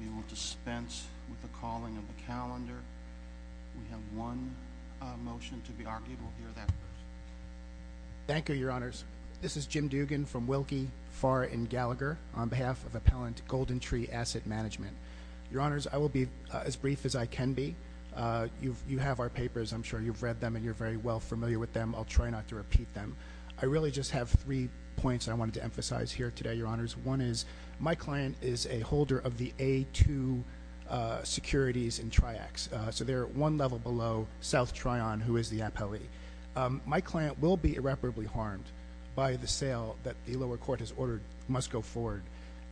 We will dispense with the calling of the calendar. We have one motion to be argued. We'll hear that first. Thank you, Your Honors. This is Jim Dugan from Wilkie, Pharr, and Gallagher on behalf of Appellant Golden Tree Asset Management. Your Honors, I will be as brief as I can be. You have our papers. I'm sure you've read them and you're very well familiar with them. I'll try not to repeat them. I really just have three points I wanted to emphasize here today, Your Honors. One is my client is a holder of the A2 securities in Triaxx, so they're one level below South Trion, who is the appellee. My client will be irreparably harmed by the sale that the lower court has ordered must go forward,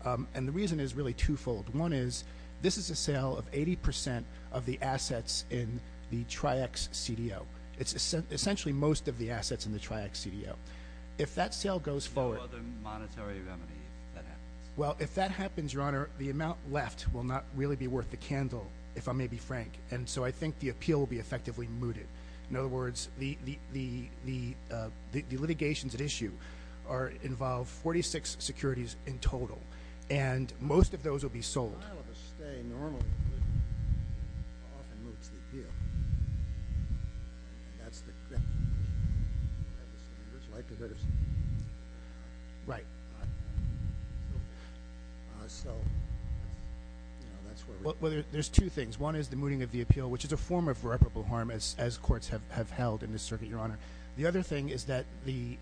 and the reason is really twofold. One is this is a sale of 80% of the assets in the Triaxx CDO. It's essentially most of the assets in the Triaxx CDO. If that sale goes forward— No other monetary remedy if that happens. Well, if that happens, Your Honor, the amount left will not really be worth the candle, if I may be frank, and so I think the appeal will be effectively mooted. In other words, the litigations at issue involve 46 securities in total, and most of those will be sold. Well, there's two things. One is the mooting of the appeal, which is a form of irreparable harm, as courts have held in this circuit, Your Honor. The other thing is that the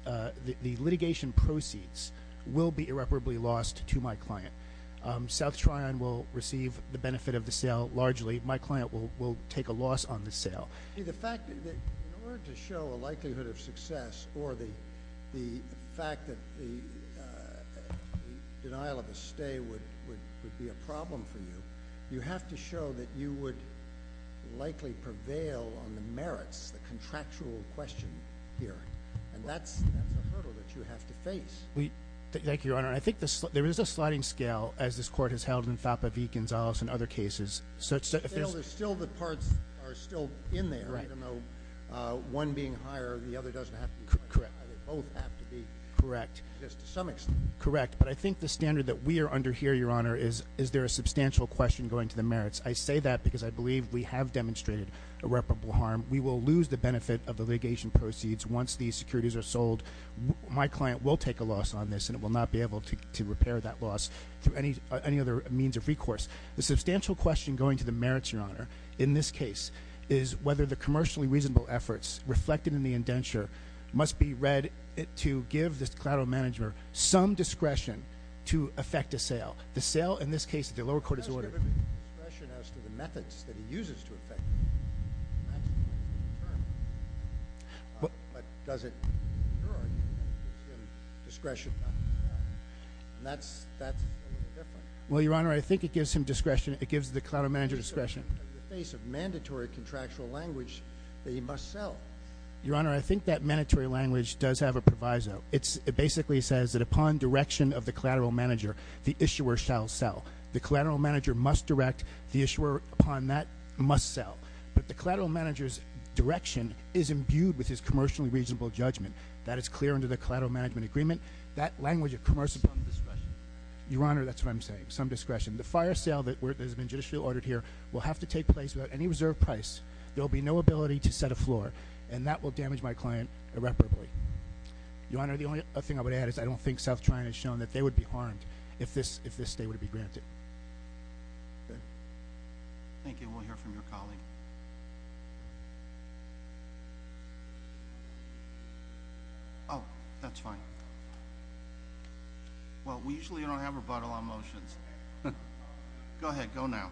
litigation proceeds will be irreparably lost to my client. South Trion will receive the benefit of the sale largely. My client will take a loss on the sale. See, the fact—in order to show a likelihood of success or the fact that the denial of a stay would be a problem for you, you have to show that you would likely prevail on the merits, the contractual question here, and that's a hurdle that you have to face. Thank you, Your Honor. I think there is a sliding scale, as this court has held in FAPA v. Gonzales and other cases. Still, the parts are still in there, even though one being higher, the other doesn't have to be higher. Correct. They both have to be, just to some extent. Correct, but I think the standard that we are under here, Your Honor, is there a substantial question going to the merits. I say that because I believe we have demonstrated irreparable harm. We will lose the benefit of the litigation proceeds once these securities are sold. My client will take a loss on this, and it will not be able to repair that loss through any other means of recourse. The substantial question going to the merits, Your Honor, in this case, is whether the commercially reasonable efforts reflected in the indenture must be read to give the collateral manager some discretion to effect a sale. The sale, in this case, the lower court has ordered— That's the term. But does it, in your argument, give him discretion? No. That's a little different. Well, Your Honor, I think it gives him discretion. It gives the collateral manager discretion. In the face of mandatory contractual language that he must sell. Your Honor, I think that mandatory language does have a proviso. It basically says that upon direction of the collateral manager, the issuer shall sell. The collateral manager must direct. The issuer upon that must sell. But the collateral manager's direction is imbued with his commercially reasonable judgment. That is clear under the collateral management agreement. That language of commercial— Some discretion. Your Honor, that's what I'm saying. Some discretion. The fire sale that has been judicially ordered here will have to take place without any reserve price. There will be no ability to set afloat, and that will damage my client irreparably. Your Honor, the only other thing I would add is I don't think South China has shown that they would be harmed if this stay would be granted. Okay? Thank you. We'll hear from your colleague. Oh, that's fine. Well, we usually don't have rebuttal on motions. Go ahead. Go now.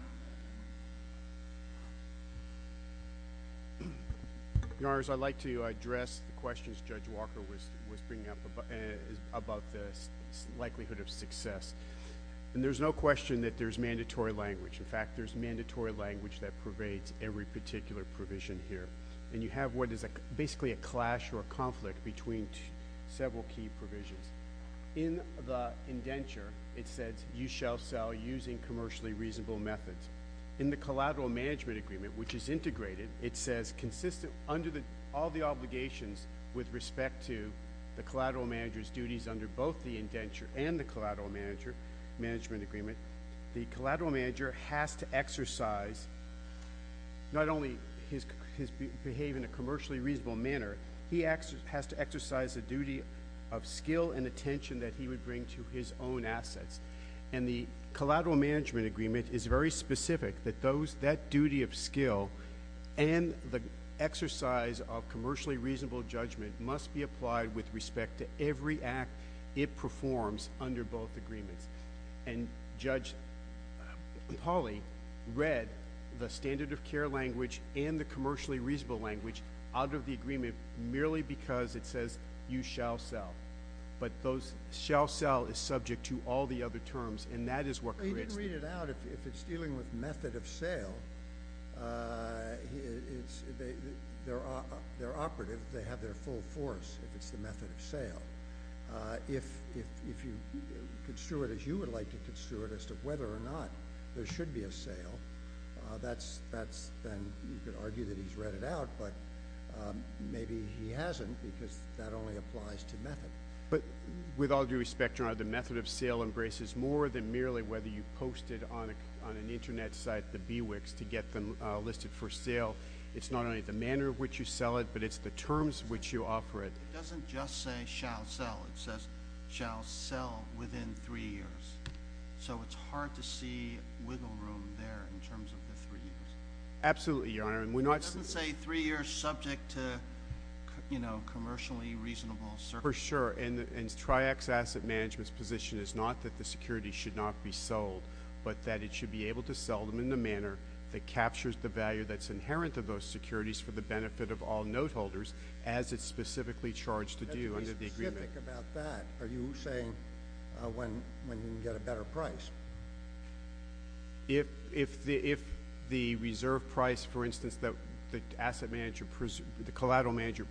Your Honors, I'd like to address the questions Judge Walker was bringing up about the likelihood of success. And there's no question that there's mandatory language. In fact, there's mandatory language that pervades every particular provision here. And you have what is basically a clash or a conflict between several key provisions. In the indenture, it says you shall sell using commercially reasonable methods. In the collateral management agreement, which is integrated, it says consistent under all the obligations with respect to the collateral manager's duties under both the indenture and the collateral management agreement, the collateral manager has to exercise not only his behavior in a commercially reasonable manner, he has to exercise a duty of skill and attention that he would bring to his own assets. And the collateral management agreement is very specific that that duty of skill and the exercise of commercially reasonable judgment must be applied with respect to every act it performs under both agreements. And Judge Pauly read the standard of care language and the commercially reasonable language out of the agreement merely because it says you shall sell. But those shall sell is subject to all the other terms, and that is what creates the— Well, he didn't read it out. If it's dealing with method of sale, they're operative. They have their full force if it's the method of sale. If you would like to construe it as to whether or not there should be a sale, then you could argue that he's read it out, but maybe he hasn't because that only applies to method. But with all due respect, Your Honor, the method of sale embraces more than merely whether you post it on an Internet site, the BWICs, to get them listed for sale. It's not only the manner in which you sell it, but it's the terms in which you offer it. It doesn't just say shall sell. It says shall sell within three years. So it's hard to see wiggle room there in terms of the three years. Absolutely, Your Honor. It doesn't say three years subject to commercially reasonable circumstances. For sure. And TRIAC's asset management's position is not that the securities should not be sold, but that it should be able to sell them in the manner that captures the value that's inherent to those securities for the benefit of all note holders as it's specifically charged to do under the agreement. What do you think about that? Are you saying when you can get a better price? If the reserve price, for instance, that the collateral manager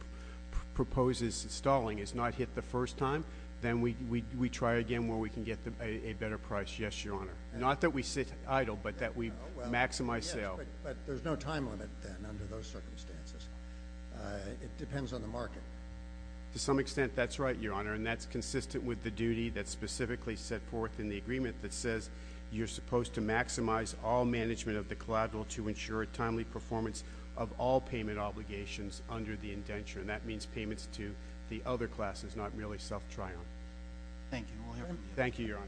proposes installing is not hit the first time, then we try again where we can get a better price, yes, Your Honor. Not that we sit idle, but that we maximize sale. But there's no time limit then under those circumstances. It depends on the market. To some extent, that's right, Your Honor, and that's consistent with the duty that's specifically set forth in the agreement that says you're supposed to maximize all management of the collateral to ensure a timely performance of all payment obligations under the indenture, and that means payments to the other classes, not merely South Tryon. Thank you. We'll hear from you. Thank you, Your Honor.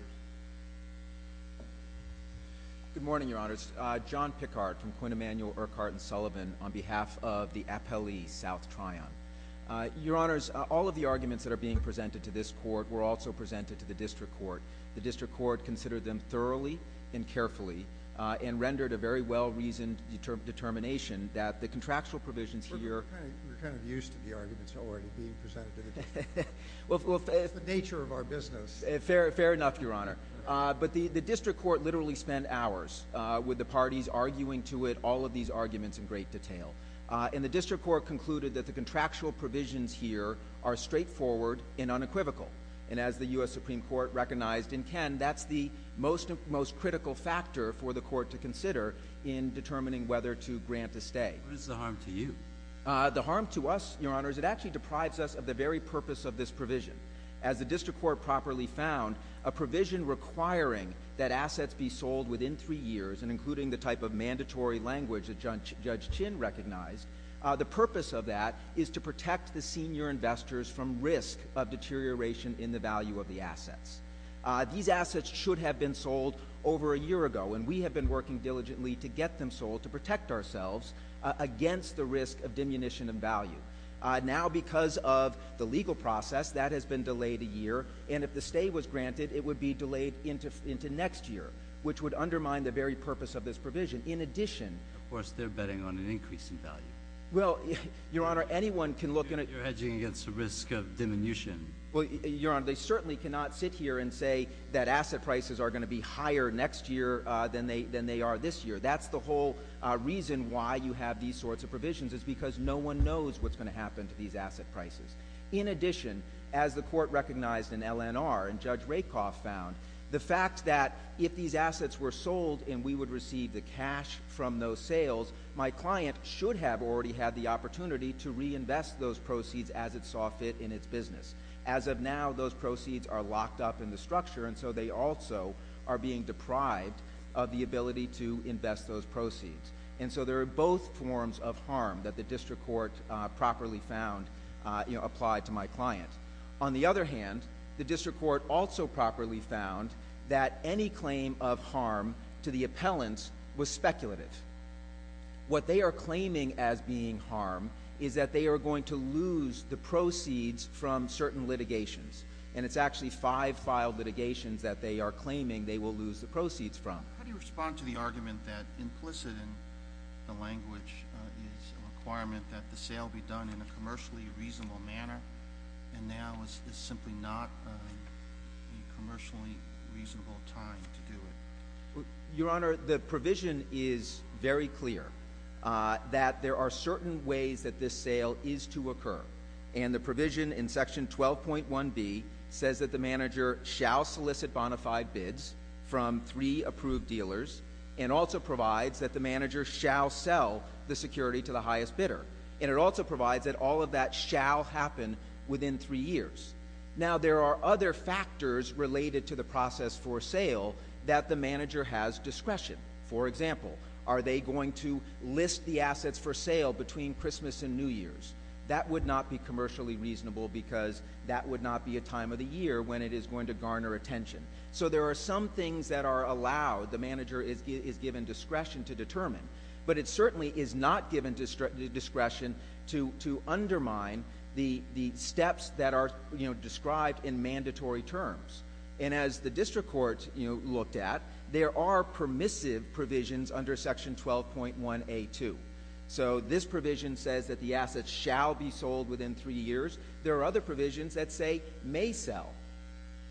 Good morning, Your Honors. John Pickard from Quinn Emanuel, Urquhart & Sullivan on behalf of the appellee, South Tryon. Your Honors, all of the arguments that are being presented to this court were also presented to the district court. The district court considered them thoroughly and carefully and rendered a very well-reasoned determination that the contractual provisions here are kind of used to the arguments already being presented to the district court. It's the nature of our business. Fair enough, Your Honor. But the district court literally spent hours with the parties arguing to it all of these arguments in great detail, and the district court concluded that the contractual provisions here are straightforward and unequivocal, and as the U.S. Supreme Court recognized in Ken, that's the most critical factor for the court to consider in determining whether to grant a stay. What is the harm to you? The harm to us, Your Honors, it actually deprives us of the very purpose of this provision. As the district court properly found, a provision requiring that assets be sold within three years and including the type of mandatory language that Judge Chin recognized, the purpose of that is to protect the senior investors from risk of deterioration in the value of the assets. These assets should have been sold over a year ago, and we have been working diligently to get them sold to protect ourselves against the risk of diminution of value. Now, because of the legal process, that has been delayed a year, and if the stay was granted, it would be delayed into next year, which would undermine the very purpose of this provision. In addition— Of course, they're betting on an increase in value. Well, Your Honor, anyone can look— You're hedging against the risk of diminution. Well, Your Honor, they certainly cannot sit here and say that asset prices are going to be higher next year than they are this year. That's the whole reason why you have these sorts of provisions, is because no one knows what's going to happen to these asset prices. In addition, as the court recognized in LNR and Judge Rakoff found, the fact that if these assets were sold and we would receive the cash from those sales, my client should have already had the opportunity to reinvest those proceeds as it saw fit in its business. As of now, those proceeds are locked up in the structure, and so they also are being deprived of the ability to invest those proceeds. And so there are both forms of harm that the district court properly found applied to my client. On the other hand, the district court also properly found that any claim of harm to the appellants was speculative. What they are claiming as being harm is that they are going to lose the proceeds from certain litigations, and it's actually five filed litigations that they are claiming they will lose the proceeds from. How do you respond to the argument that implicit in the language is a requirement that the sale be done in a commercially reasonable manner, and now is simply not a commercially reasonable time to do it? Your Honor, the provision is very clear that there are certain ways that this sale is to occur, and the provision in Section 12.1b says that the manager shall solicit bona fide bids from three approved dealers and also provides that the manager shall sell the security to the highest bidder, and it also provides that all of that shall happen within three years. Now, there are other factors related to the process for sale that the manager has discretion. For example, are they going to list the assets for sale between Christmas and New Year's? That would not be commercially reasonable because that would not be a time of the year when it is going to garner attention. So there are some things that are allowed, the manager is given discretion to determine, but it certainly is not given discretion to undermine the steps that are described in mandatory terms. And as the district court looked at, there are permissive provisions under Section 12.1a2. So this provision says that the assets shall be sold within three years. There are other provisions that say may sell.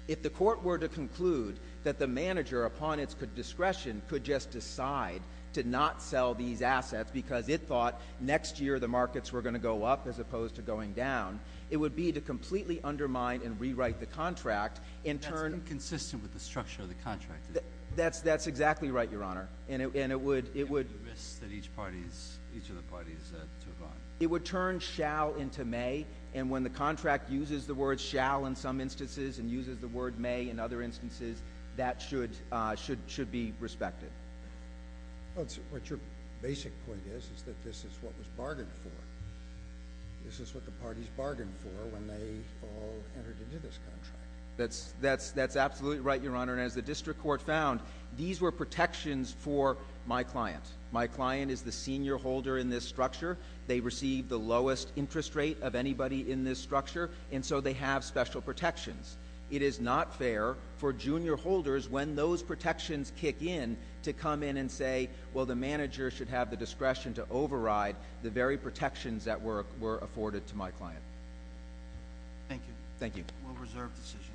If the court were to conclude that the manager, upon its discretion, could just decide to not sell these assets because it thought next year the markets were going to go up as opposed to going down, it would be to completely undermine and rewrite the contract in turn. That's inconsistent with the structure of the contract. That's exactly right, Your Honor. And it would – And the risks that each of the parties took on. It would turn shall into may, and when the contract uses the word shall in some instances and uses the word may in other instances, that should be respected. What your basic point is is that this is what was bargained for. This is what the parties bargained for when they all entered into this contract. That's absolutely right, Your Honor. And as the district court found, these were protections for my client. My client is the senior holder in this structure. They receive the lowest interest rate of anybody in this structure, and so they have special protections. It is not fair for junior holders, when those protections kick in, to come in and say, well, the manager should have the discretion to override the very protections that were afforded to my client. Thank you. Thank you. We'll reserve decision.